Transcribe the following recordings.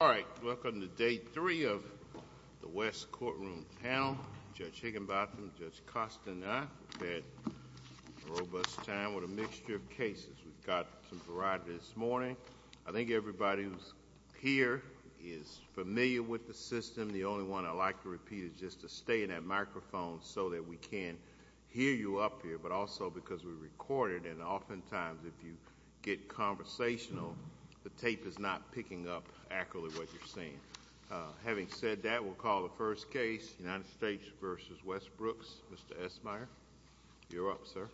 All right. Welcome to day three of the West courtroom panel. Judge Higginbotham, Judge Costaner. We've had a robust time with a mixture of cases. We've got some variety this morning. I think everybody who's here is familiar with the system. The only one I'd like to repeat is just to stay in that microphone so that we can hear you up here, but also because we recorded and oftentimes if you get conversational, the tape is not picking up accurately what you're saying. Having said that, we'll call the first case United States v. Westbrooks. Mr. Esmeyer, you're up, sir.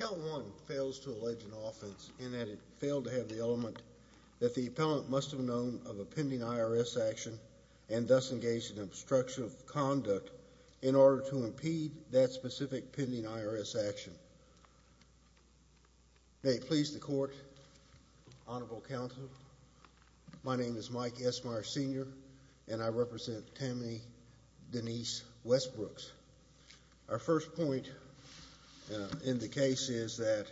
Count one fails to allege an offense in that it failed to have the element that the appellant must have known of a pending IRS action and thus engaged in obstruction of conduct in order to impede that specific pending IRS action. May it please the court, honorable counsel, my name is Mike Esmeyer Sr. and I represent Tamny Denise Westbrooks. Our first point in the case is that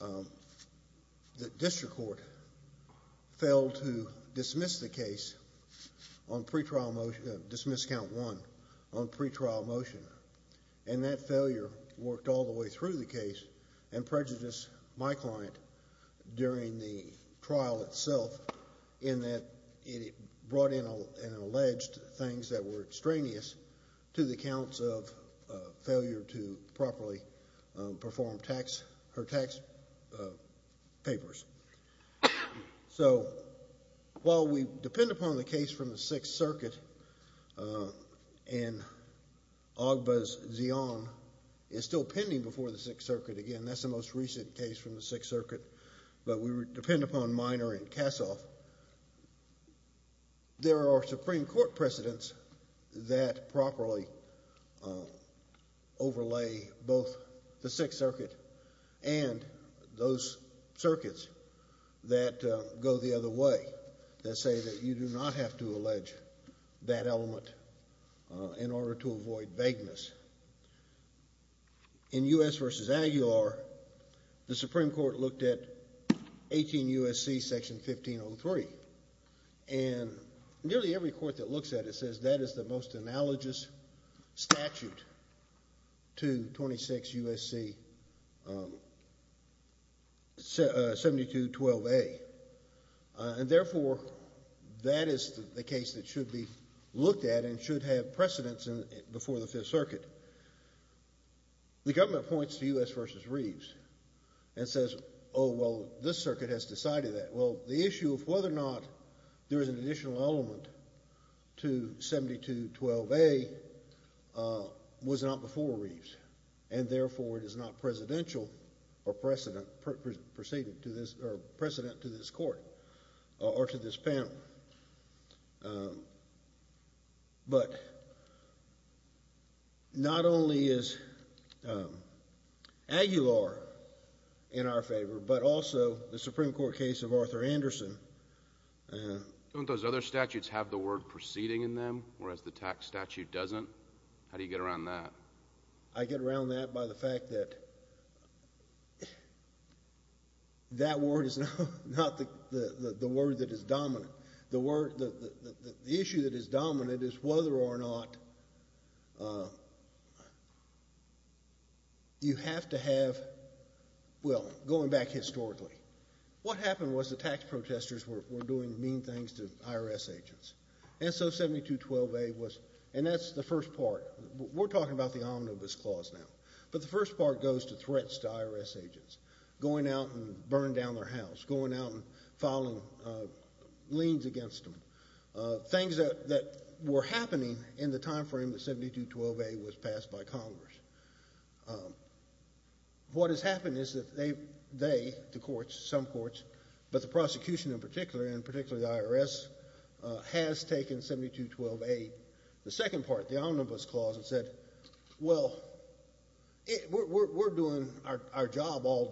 the district court failed to dismiss the case on pre-trial motion, and that failure worked all the way through the case and prejudiced my client during the trial itself in that it brought in and alleged things that were extraneous to the counts of failure to properly perform her tax papers. So while we depend upon the case from the Sixth Circuit and OGBA's Zeon is still pending before the Sixth Circuit, again, that's the most recent case from the Sixth Circuit, but we depend upon Minor and Kassoff, there are Supreme Court precedents that properly overlay both the Sixth Circuit and those circuits that go the other way, that say that you do not have to allege that element in order to avoid vagueness. In U.S. v. Aguilar, the Supreme Court looked at 18 U.S.C. section 1503, and nearly every court that looks at it says that is the most analogous statute to 26 U.S.C. 7212A, and therefore, that is the case that should be looked at and should have precedents before the Fifth Circuit. The government points to U.S. v. Reeves and says, oh, well, this circuit has decided that. Well, the issue of whether or not there is an additional element to 7212A was not before Reeves, and therefore, it is not presidential or precedent to this court or to this panel. But not only is Aguilar in our favor, but also the Supreme Court case of Arthur Anderson. Don't those other statutes have the word preceding in them, whereas the tax statute doesn't? How do you get around that? I get around that by the fact that that word is not the word that is dominant. The word, the issue that is dominant is whether or not you have to have, well, going back historically, what happened was the tax protesters were doing mean things to IRS agents, and so 7212A was, and that's the first part. We're talking about the omnibus clause now, but the first part goes to threats to IRS agents, going out and burning down their house, going out and filing liens against them, things that were happening in the time frame that 7212A was passed by Congress. What has happened is that they, the courts, some courts, but the prosecution in particular, and particularly the IRS, has taken 7212A, the second part, the omnibus clause, and said, well, we're doing our job all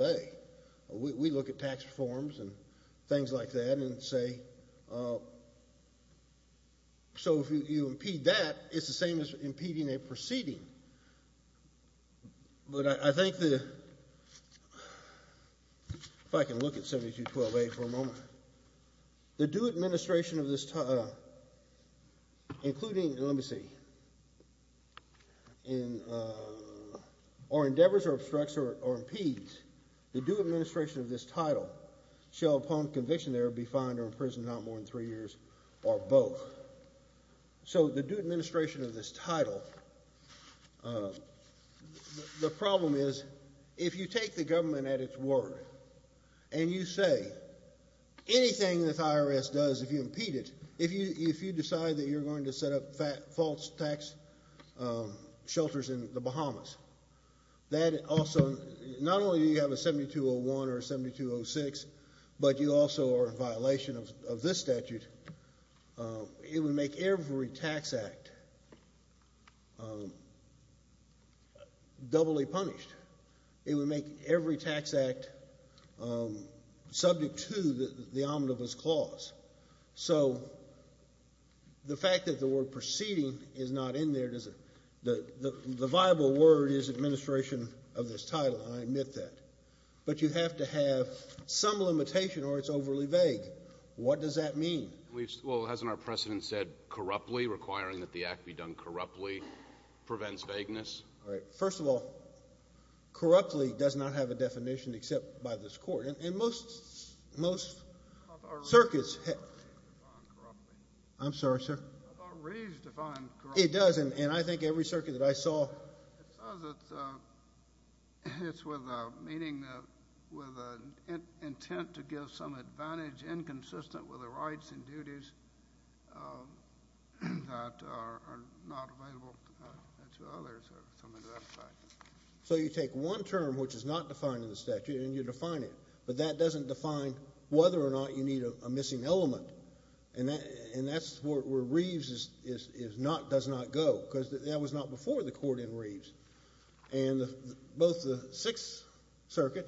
We look at tax reforms and things like that and say, so if you impede that, it's the same as impeding a proceeding. But I think the, if I can look at 7212A for a moment, the due administration of this, including, let me see, in, or endeavors or obstructs or impedes, the due administration of this title shall, upon conviction there, be fined or imprisoned not more than three years or both. So the due administration of this title, the problem is, if you take the government at its word and you say anything that the IRS does, if you impede it, if you decide that you're going to set up false tax shelters in the Bahamas, that also, not only do you have a 7201 or 7206, but you also are in violation of this statute, it would make every tax act doubly punished. It would make every tax act subject to the omnibus clause. So the fact that the word proceeding is not in there doesn't, the viable word is administration of this title, and I admit that. But you have to have some limitation or it's overly vague. What does that mean? Well, hasn't our precedent said corruptly, requiring that the act be done corruptly prevents vagueness? All right. First of all, corruptly does not have a definition except by this Court. And most circuits I'm sorry, sir. How about raised to find corruptly? It does. And I think every circuit that I saw It says it's with a meaning, with an intent to give some advantage inconsistent with the rights and duties that are not available to others. So you take one term, which is not defined in the statute, and you define it, but that doesn't define whether or not you need a missing element. And that's where Reeves does not go, because that was not before the court in Reeves. And both the Sixth Circuit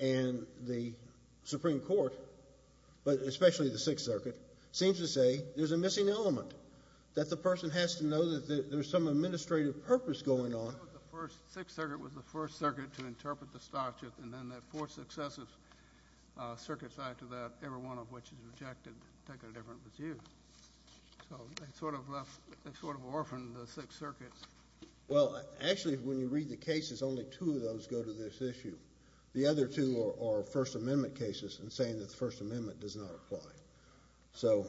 and the Supreme Court, but especially the Sixth Circuit, seems to say there's a missing element, that the person has to know that there's some administrative purpose going on. The Sixth Circuit was the first circuit to interpret the statute, and then that four successive circuits after that, every one of which is rejected, take a different view. So they sort of orphaned the Sixth Circuit. Well, actually, when you read the cases, only two of those go to this issue. The other two are First Amendment does not apply. So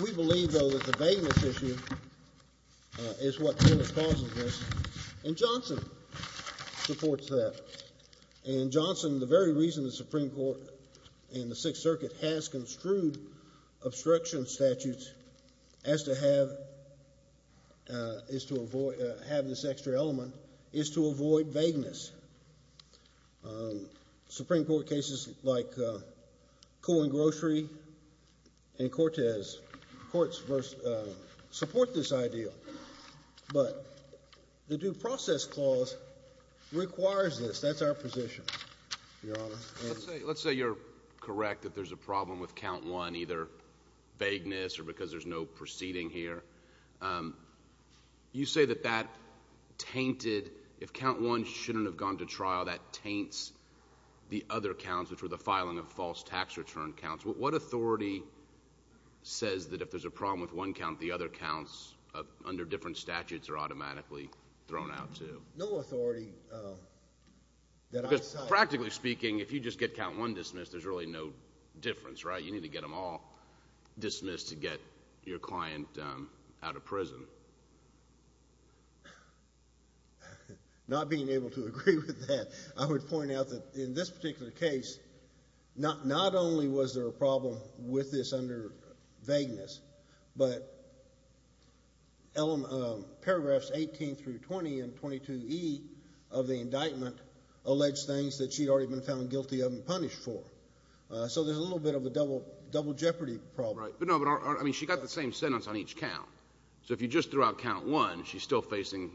we believe, though, that the vagueness issue is what causes this, and Johnson supports that. And Johnson, the very reason the Supreme Court and the Sixth Circuit has construed obstruction statutes as to have this extra element is to avoid vagueness. Supreme Court cases like Cohen Grocery and Cortez, courts support this idea. But the Due Process Clause requires this. That's our position, Your Honor. Let's say you're correct that there's a problem with count one, either vagueness or because there's no proceeding here. You say that that tainted, if count one shouldn't have gone to trial, that taints the other counts, which were the filing of false tax return counts. What authority says that if there's a problem with one count, the other counts under different statutes are automatically thrown out, too? No authority that I cite. Practically speaking, if you just get count one dismissed, there's really no difference, right? You need to get them all dismissed to get your client out of prison. Not being able to agree with that, I would point out that in this particular case, not only was there a problem with this under vagueness, but paragraph 18 through 20 in 22e of the indictment alleged things that she had already been found guilty of and punished for. So there's a little bit of a double jeopardy problem. Right. I mean, she got the same sentence on each count. So if you just threw out count one, she's still facing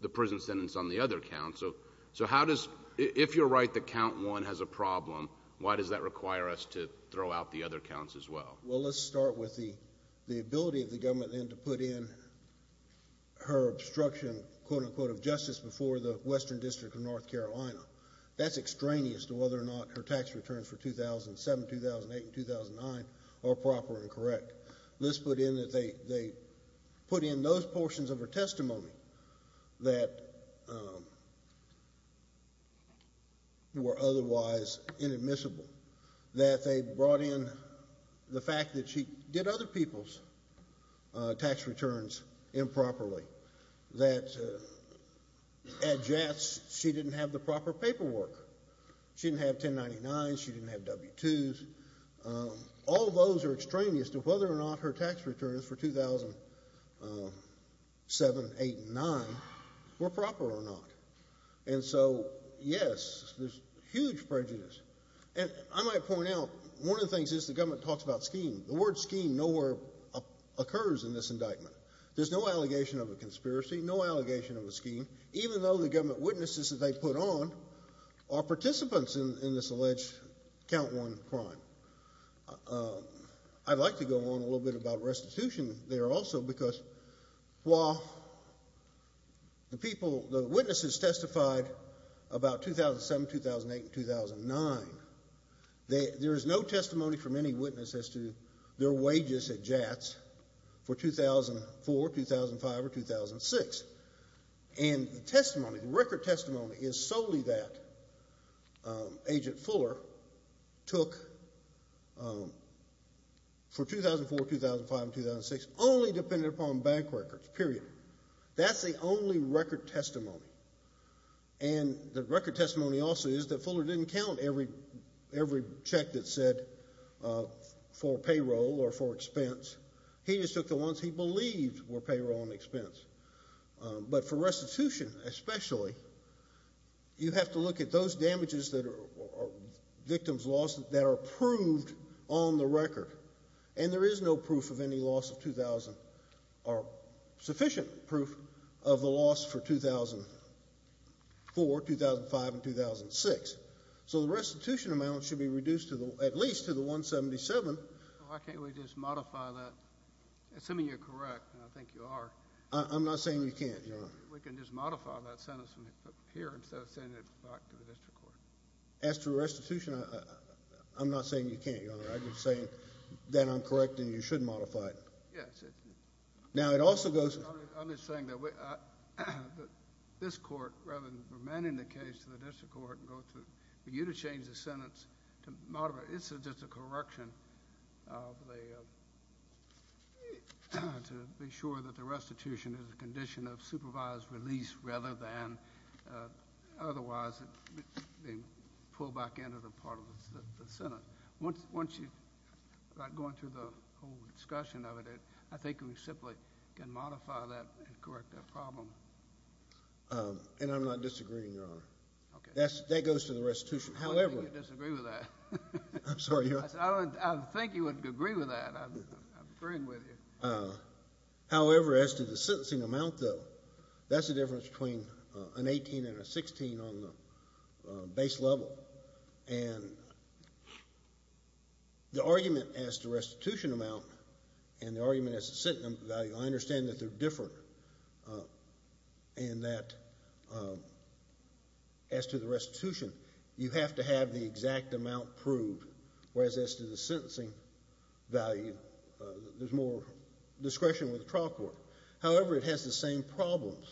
the prison sentence on the other count. So how does, if you're right that count one has a problem, why does that require us to throw out the other counts as well? Well, let's start with the ability of the government then to put in her obstruction, quote unquote, of justice before the Western District of North Carolina. That's extraneous to whether or not her tax returns for 2007, 2008, and 2009 are proper and correct. Let's put in that they put in those portions of her testimony that were otherwise inadmissible, that they brought in the fact that she did other people's tax returns improperly, that at JATS, she didn't have the proper paperwork. She didn't have 1099. She didn't have W-2s. All those are extraneous to whether or not her tax returns for 2007, 2008, and 2009 were proper or not. And so, yes, there's huge prejudice. And I might point out, one of the things is the government talks about scheme. The word scheme nowhere occurs in this indictment. There's no allegation of a conspiracy, no allegation of a scheme, even though the government witnesses that they put on are participants in this alleged count one crime. I'd like to go on a little bit about restitution there also, because while the people, the witnesses testified about 2007, 2008, and 2009, there is no testimony from any their wages at JATS for 2004, 2005, or 2006. And the testimony, the record testimony is solely that Agent Fuller took for 2004, 2005, and 2006, only dependent upon bank records, period. That's the only record testimony. And the record testimony also is that Fuller didn't count every check that said for payroll or for expense. He just took the ones he believed were payroll and expense. But for restitution especially, you have to look at those damages that are victims lost that are proved on the record. And there is no proof of any loss of 2000, or sufficient proof of the loss for 2004, 2005, and 2006. So the restitution amount should be reduced at least to the 177. Why can't we just modify that? Assuming you're correct, and I think you are. I'm not saying you can't, Your Honor. We can just modify that sentence here instead of sending it back to the district court. As to restitution, I'm not saying you can't, Your Honor. I'm just saying that I'm correct and you should modify it. Yes. Now it also goes... I'm just saying that this court, rather than remanding the case to the district court and go through... For you to change the sentence to modify... It's just a correction to be sure that the restitution is a condition of supervised release rather than otherwise being pulled back into the part of the Senate. Once you start going through the whole discussion of it, I think we simply can modify that and correct that problem. And I'm not disagreeing, Your Honor. Okay. That goes to the restitution. I don't think you disagree with that. I'm sorry, Your Honor. I think you would agree with that. I'm agreeing with you. However, as to the sentencing amount, though, that's the difference between an 18 and a 16 on the base level. And the argument as to restitution amount and the argument as to sentencing value, I understand that they're different and that as to the restitution, you have to have the exact amount proved, whereas as to the sentencing value, there's more discretion with the trial court. However, it has the same problems.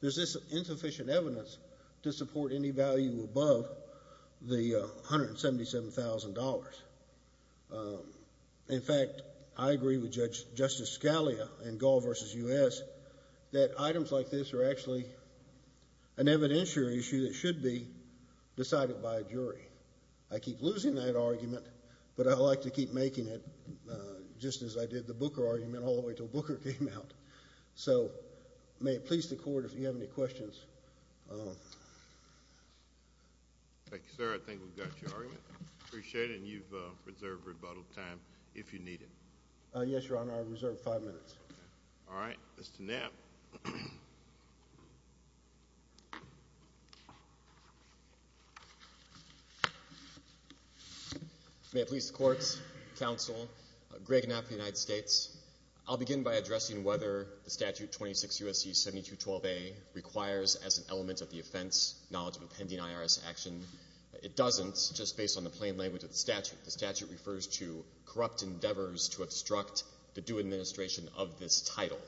There's insufficient evidence to support any value above the $177,000. In fact, I agree with Justice Scalia in Gall v. U.S. that items like this are actually an evidentiary issue that should be decided by a jury. I keep losing that argument, but I'd like to keep making it just as I did the Booker argument all the way until Booker came out. So, may it please the Court, if you have any questions. Thank you, sir. I think we've got your argument. Appreciate it. And you've reserved rebuttal time if you need it. Yes, Your Honor. I reserve five minutes. All right. Mr. Knapp. May it please the Courts, Counsel, Greg Knapp of the United States. I'll begin by addressing whether the Statute 26 U.S.C. 7212A requires as an element of the offense knowledge of a pending IRS action. It doesn't, just based on the plain language of the statute. The statute refers to corrupt endeavors to obstruct the due administration of this title,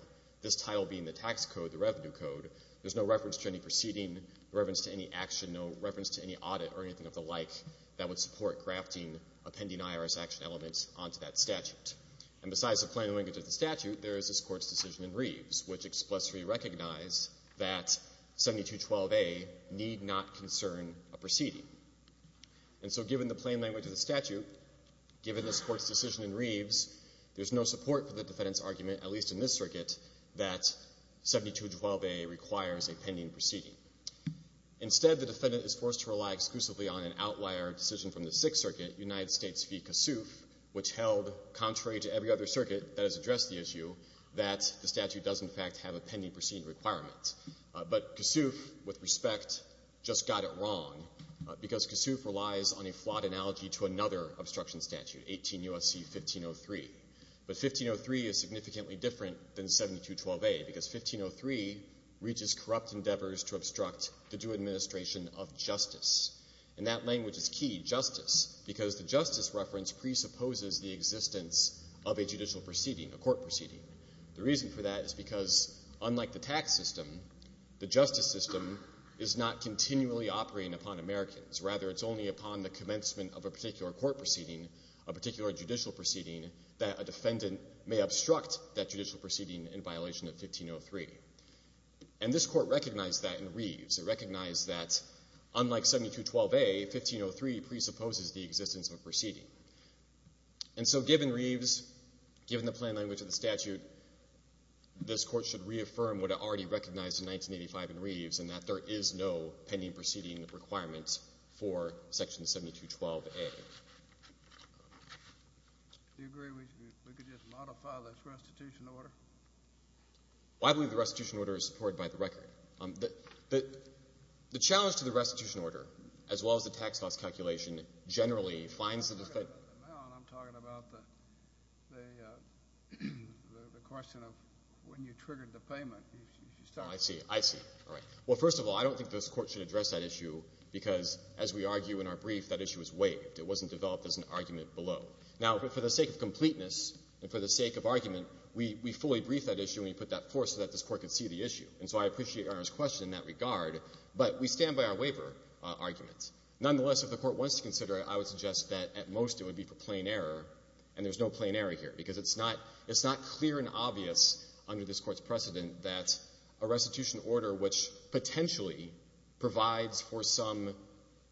this title being the tax code, the revenue code. There's no reference to any proceeding, no reference to any action, no reference to any audit or anything of the like that would support grafting a pending IRS action element onto that statute. And besides the plain language of the statute, there is this Court's decision in Reeves, which expressly recognized that 7212A need not concern a proceeding. And so given the plain language of the statute, given this Court's decision in Reeves, there's no support for the defendant's argument, at least in this circuit, that 7212A requires a pending proceeding. Instead, the defendant is forced to rely exclusively on an outlier decision from the Sixth Circuit, United States v. Kossuth, which held contrary to every other circuit that has addressed the issue, that the statute does, in fact, have a pending proceeding requirement. But Kossuth, with respect, just got it wrong, because Kossuth relies on a flawed analogy to another obstruction statute, 18 U.S.C. 1503. But 1503 is significantly different than 7212A, because 1503 reaches corrupt endeavors to obstruct the due administration of justice. And that language is key, justice, because the justice reference presupposes the existence of a judicial proceeding, a court proceeding. The reason for that is because, unlike the tax system, the justice system is not continually operating upon Americans. Rather, it's only upon the commencement of a particular court proceeding, a particular judicial proceeding, that a defendant may obstruct that judicial proceeding in violation of 1503. And this Court recognized that in Reeves. It recognized that, unlike 7212A, 1503 presupposes the existence of a proceeding. And so, given Reeves, given the plain language of the statute, this Court should reaffirm what it already recognized in 1985 in Reeves, and that there is no pending proceeding requirement for Section 7212A. Do you agree we could just modify this restitution order? Well, I believe the restitution order is supported by the record. The challenge to the restitution order, as well as the tax cost calculation, generally finds the defendant — I'm not talking about the amount. I'm talking about the question of when you triggered the payment. Oh, I see. I see. All right. Well, first of all, I don't think this Court should address that issue, because, as we argue in our brief, that issue was waived. It wasn't developed as an argument below. Now, for the sake of completeness, and for the sake of argument, we fully brief that issue, and we put that forth so that this Court could see the issue. And so I appreciate Your Honor's question in that regard, but we stand by our waiver argument. Nonetheless, if the Court wants to consider it, I would suggest that, at most, it would be for plain error, and there's no plain error here, because it's not clear and obvious under this Court's precedent that a restitution order which potentially provides for some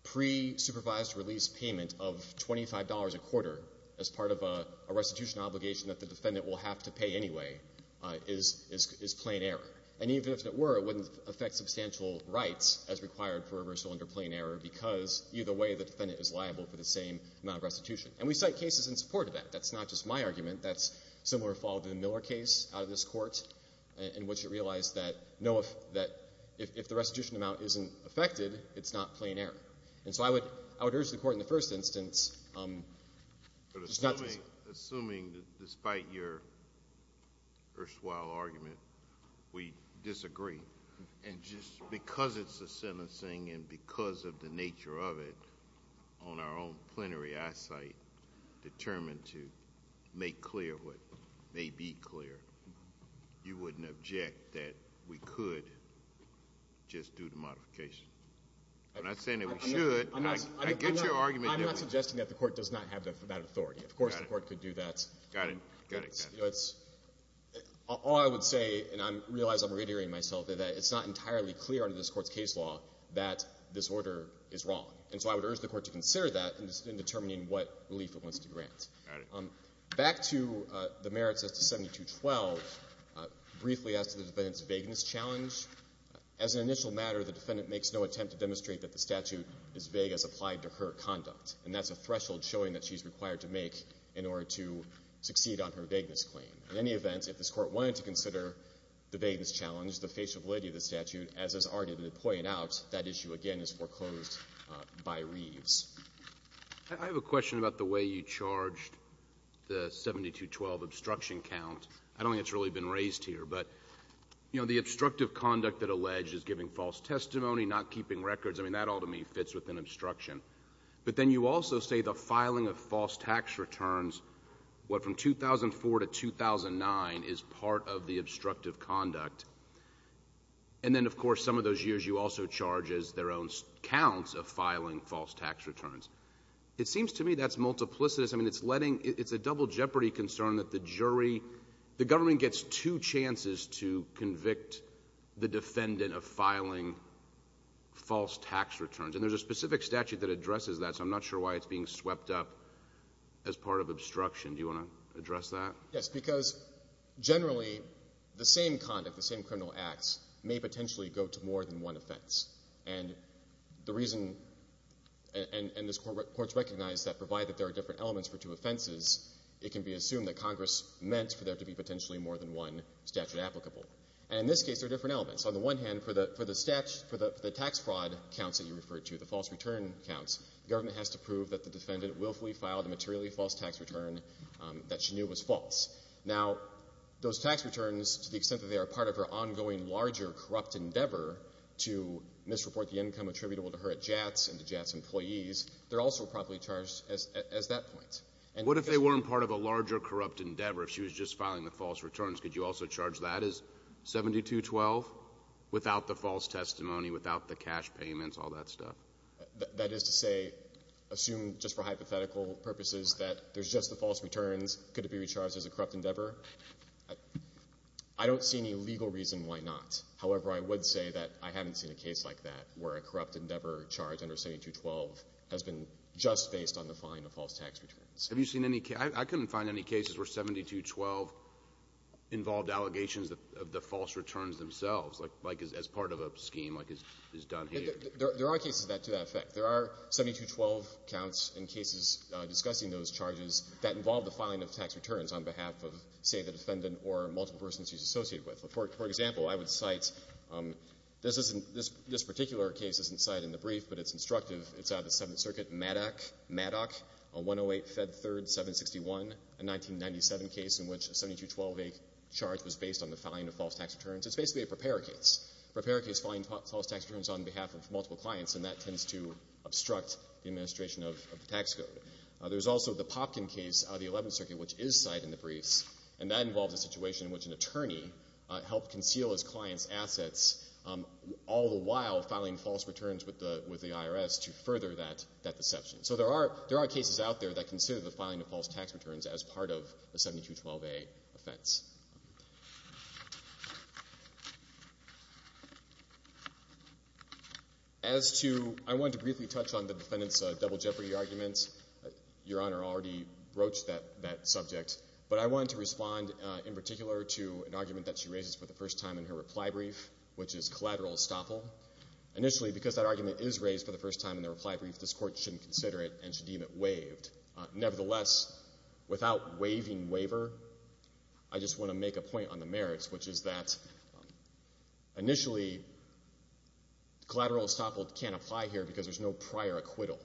pre-supervised release payment of $25 a quarter as part of a restitution obligation that the defendant will have to pay anyway is plain error. And even if it were, it wouldn't affect substantial rights as required for reversal under plain error, because either way, the defendant is liable for the same amount of restitution. And we cite cases in support of that. That's not just my argument. That's similar to the Miller case out of this Court, in which it realized that, no, if the restitution amount isn't affected, it's not plain error. And so I would urge the Court in the first instance just not to— Assuming that, despite your erstwhile argument, we disagree, and just because it's a sentencing and because of the nature of it, on our own plenary eyesight, determined to make clear what may be clear, you wouldn't object that we could just do the modification? I'm not saying that we should. I get your argument. I'm not suggesting that the Court does not have that authority. Of course, the Court could do that. Got it. Got it. All I would say, and I realize I'm reiterating myself, is that it's not entirely clear under this Court's case law that this order is wrong. And so I would urge the Court to consider that in determining what relief it wants to grant. Got it. Back to the merits as to 7212, briefly as to the defendant's vagueness challenge, as an initial matter, the defendant makes no attempt to demonstrate that the statute is vague as applied to her conduct, and that's a threshold showing that she's required to make in order to succeed on her vagueness claim. In any event, if this Court wanted to consider the vagueness challenge, the facial validity of the statute, as has already been pointed out, that issue again is foreclosed by Reeves. I have a question about the way you charged the 7212 obstruction count. I don't think it's really been raised here, but, you know, the obstructive conduct that alleged is giving false testimony, not keeping records, I mean, that all to me fits within obstruction. But then you also say the filing of false tax returns, what, from 2004 to 2009, is part of the obstructive conduct. And then, of course, some of those years you also charge as their own counts of filing false tax returns. It seems to me that's multiplicitous. I mean, it's letting — it's a double jeopardy concern that the jury — the government gets two chances to convict the defendant of filing false tax returns. And there's a specific statute that addresses that, so I'm not sure why it's being swept up as part of obstruction. Do you want to address that? Yes, because, generally, the same conduct, the same criminal acts may potentially go to more than one offense. And the reason — and this Court's recognized that, provided there are different elements for two offenses, it can be assumed that Congress meant for there to be potentially more than one statute applicable. And in this case, there are different you referred to, the false return counts. The government has to prove that the defendant willfully filed a materially false tax return that she knew was false. Now, those tax returns, to the extent that they are part of her ongoing larger corrupt endeavor to misreport the income attributable to her at JATS and to JATS employees, they're also properly charged as that point. And — What if they weren't part of a larger corrupt endeavor? If she was just filing the false payments, all that stuff? That is to say, assume, just for hypothetical purposes, that there's just the false returns. Could it be recharged as a corrupt endeavor? I don't see any legal reason why not. However, I would say that I haven't seen a case like that where a corrupt endeavor charged under 7212 has been just based on the filing of false tax returns. Have you seen any — I couldn't find any cases where 7212 involved allegations of the false returns themselves, like, as part of a scheme, like is done here? There are cases to that effect. There are 7212 counts and cases discussing those charges that involve the filing of tax returns on behalf of, say, the defendant or multiple persons she's associated with. For example, I would cite — this isn't — this particular case isn't cited in the brief, but it's instructive. It's out of the Seventh Circuit, MADOC, MADOC, 108, Fed 3rd, 761, a 1997 case in which a 7212 charge was based on the filing of false tax returns. It's basically a PREPARE case, a PREPARE case filing false tax returns on behalf of multiple clients, and that tends to obstruct the administration of the tax code. There's also the Popkin case out of the Eleventh Circuit, which is cited in the briefs, and that involves a situation in which an attorney helped conceal his client's assets all the while filing false returns with the IRS to further that deception. So there are cases out there that consider the filing of false tax returns as part of a 7212a offense. As to — I wanted to briefly touch on the defendant's double jeopardy argument. Your Honor already broached that subject, but I wanted to respond in particular to an argument that she raises for the first time in her reply brief, which is collateral estoppel. Initially, because that argument is raised for the first time in the reply brief, this Court shouldn't consider it and should deem it waived. Nevertheless, without waiving waiver, I just want to make a point on the merits, which is that, initially, collateral estoppel can't apply here because there's no prior acquittal.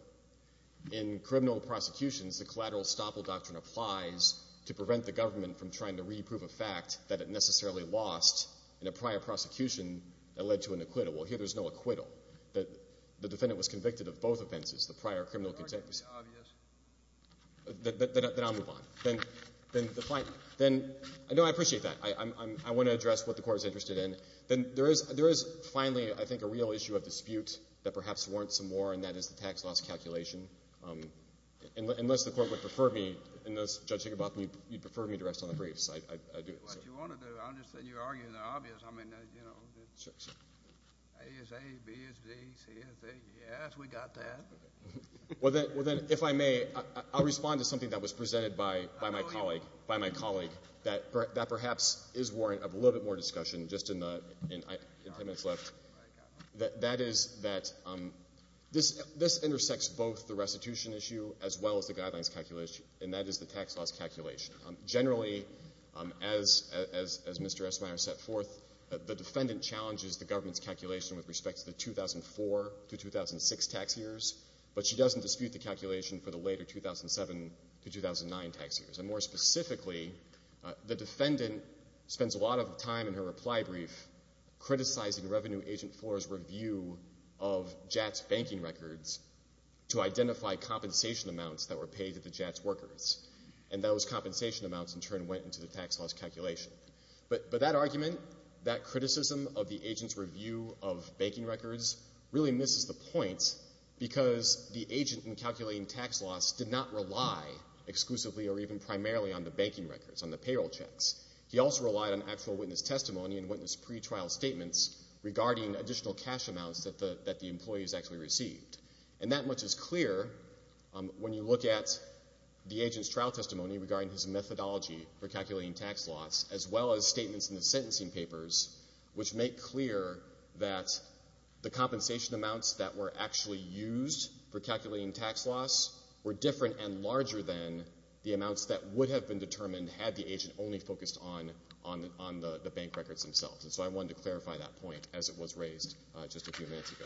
In criminal prosecutions, the collateral estoppel doctrine applies to prevent the government from trying to re-prove a fact that it necessarily lost in a prior prosecution that led to an acquittal. Well, here there's no acquittal. The defendant was convicted of both offenses, the prior criminal contemp— Your argument is obvious. Then I'll move on. Then the — no, I appreciate that. I want to address what the Court is interested in. Then there is finally, I think, a real issue of dispute that perhaps warrants some more, and that is the tax loss calculation. Unless the Court would prefer me — unless Judge Tickerbotham, you'd prefer me to rest on the briefs, I'd do it. What you want to do, I understand you're arguing the obvious. I mean, you know, A is A, B is B, C is C. Yes, we got that. Well, then, if I may, I'll respond to something that was presented by my colleague that perhaps is warrant of a little bit more discussion just in the 10 minutes left. That is that this intersects both the restitution issue as well as the guidelines calculation, and that is the tax loss calculation. Generally, as Mr. Esmeyer set forth, the defendant challenges the government's calculation with respect to the 2004 to 2006 tax years, but she doesn't dispute the calculation for the later 2007 to 2009 tax years. And more specifically, the defendant spends a lot of time in her reply brief criticizing Revenue Agent 4's review of JATS banking records to identify compensation amounts that were paid to the JATS workers, and those compensation amounts, in turn, went into the tax loss calculation. But that argument, that criticism of the agent's review of banking records, really misses the point because the agent in calculating tax loss did not rely exclusively or even primarily on the banking records, on the payroll checks. He also relied on actual witness testimony and witness pretrial statements regarding additional cash amounts that the employees actually received. And that much is clear when you look at the agent's trial testimony regarding his methodology for calculating tax loss as well as statements in the sentencing papers which make clear that the compensation amounts that were actually used for calculating tax loss were different and larger than the amounts that would have been determined had the agent only focused on the bank records themselves. And so I wanted to clarify that point as it was raised just a few minutes ago.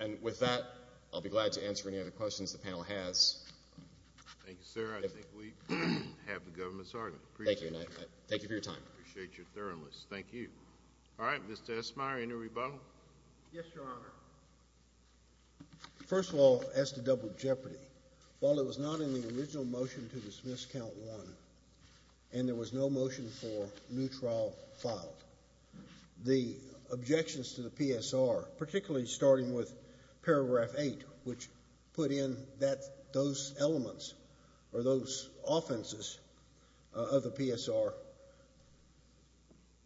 And with that, I'll be glad to answer any other questions the panel has. Thank you, sir. I think we have the government's argument. Thank you. Thank you for your time. Appreciate your thoroughness. Thank you. All right, Mr. Esmeyer, any rebuttal? Yes, Your Honor. First of all, as to double jeopardy, while it was not in the original motion to dismiss count one and there was no motion for new trial filed, the objections to the PSR, particularly starting with paragraph eight, which put in that those elements or those offenses of the PSR,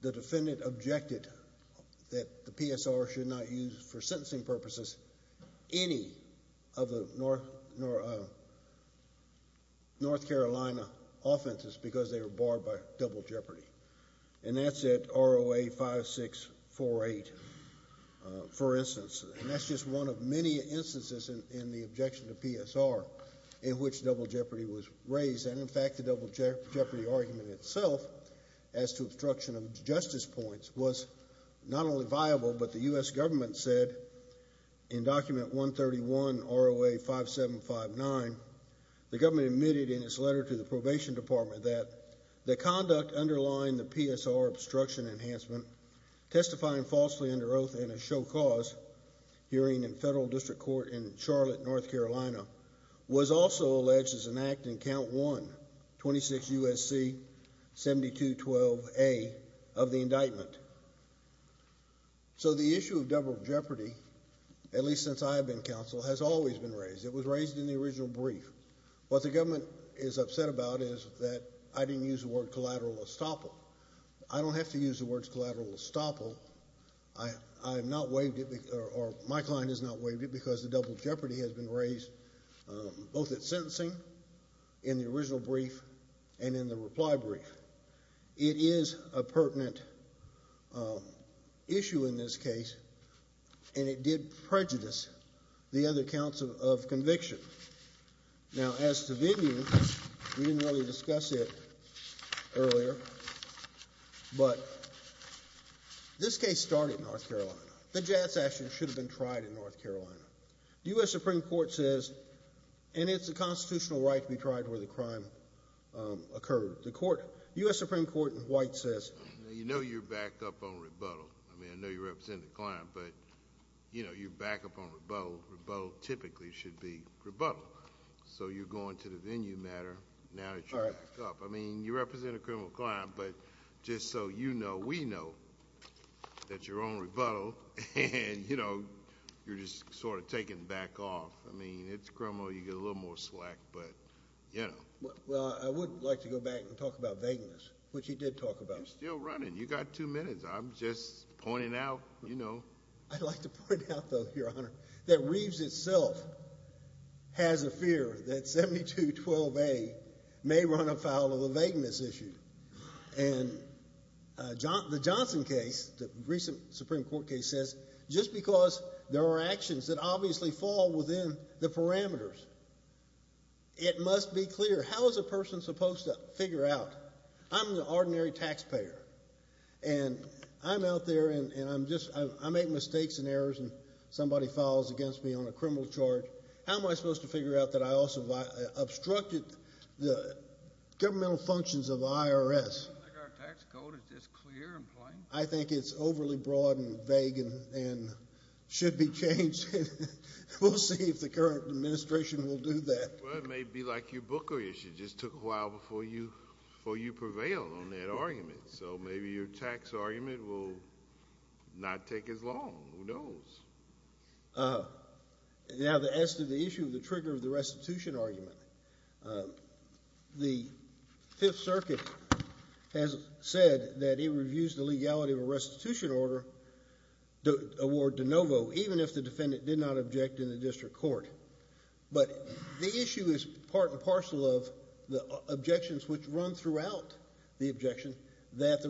the defendant objected that the PSR should not use for sentencing purposes any of the North Carolina offenses because they were barred by double jeopardy. And that's at ROA 5648, for instance. And that's just one of many instances in the objection to PSR in which double jeopardy was raised. And in fact, the double jeopardy argument itself as to obstruction of justice points was not only viable, but the U.S. government said in document 131 ROA 5759, the government admitted in its letter to the probation department that the conduct underlying the PSR obstruction enhancement, testifying falsely under oath and a show cause hearing in federal district court in Charlotte, North Carolina, was also alleged as an act in count one, 26 U.S.C. 7212A of the indictment. So the issue of double jeopardy, at least since I have been counsel, has always been raised. It was raised in the original brief. What the government is upset about is that I didn't use the word collateral estoppel. I don't have to use the words collateral estoppel. My client has not waived it because the double jeopardy has been raised both at sentencing in the original brief and in the reply brief. It is a pertinent issue in this case, and it did prejudice the other counts of conviction. Now, as to venue, we didn't really discuss it earlier, but this case started in North Carolina. The jazz action should have been tried in North Carolina. The U.S. Supreme Court says, and it's a constitutional right to be tried where the crime occurred. The U.S. Supreme Court in white says, you know, you're backed up on rebuttal. I mean, I know you represent the so you're going to the venue matter now that you're backed up. I mean, you represent a criminal client, but just so you know, we know that's your own rebuttal, and you know, you're just sort of taken back off. I mean, it's criminal. You get a little more slack, but you know. Well, I would like to go back and talk about vagueness, which he did talk about. You're still running. You've got two minutes. I'm just pointing out, you know. I'd like to point out, though, Your Honor, that Reeves itself has a fear that 7212A may run afoul of a vagueness issue. And the Johnson case, the recent Supreme Court case says, just because there are actions that obviously fall within the parameters, it must be clear. How is a person supposed to figure out? I'm the ordinary taxpayer, and I'm out there, and I make mistakes and errors, and somebody fouls against me on a criminal charge. How am I supposed to figure out that I also obstructed the governmental functions of the IRS? I think our tax code is just clear and plain. I think it's overly broad and vague and should be changed. We'll see if the current administration will do that. Well, it may be like your booker issue. It just took a while before you prevailed on that argument. So maybe your tax argument will not take as long. Who knows? Now, as to the issue of the trigger of the restitution argument, the Fifth Circuit has said that it reviews the legality of a restitution order award de novo even if the defendant did not object in the district court. But the issue is part and parcel of the objections which run throughout the objection that the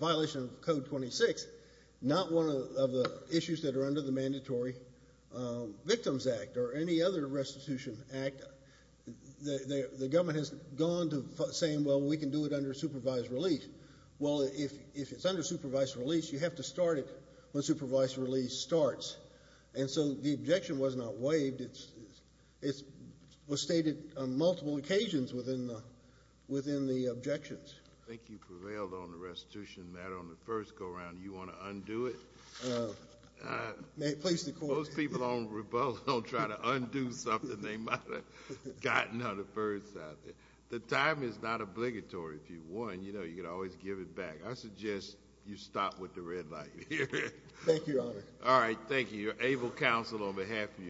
violation of Code 26, not one of the issues that are under the Mandatory Victims Act or any other restitution act, the government has gone to saying, well, we can do it under supervised release. Well, if it's under supervised release, you have to start it when supervised release starts. And so the objection was not waived. It was stated on multiple occasions within the objections. I think you prevailed on the restitution matter on the first go-round. Do you want to undo it? Most people don't revolt, don't try to undo something they might have gotten on the first out there. The time is not obligatory. If you won, you know, you can always give it back. I suggest you stop with the red light here. Thank you, Your Honor. All right. Thank you. Your able counsel on behalf of you.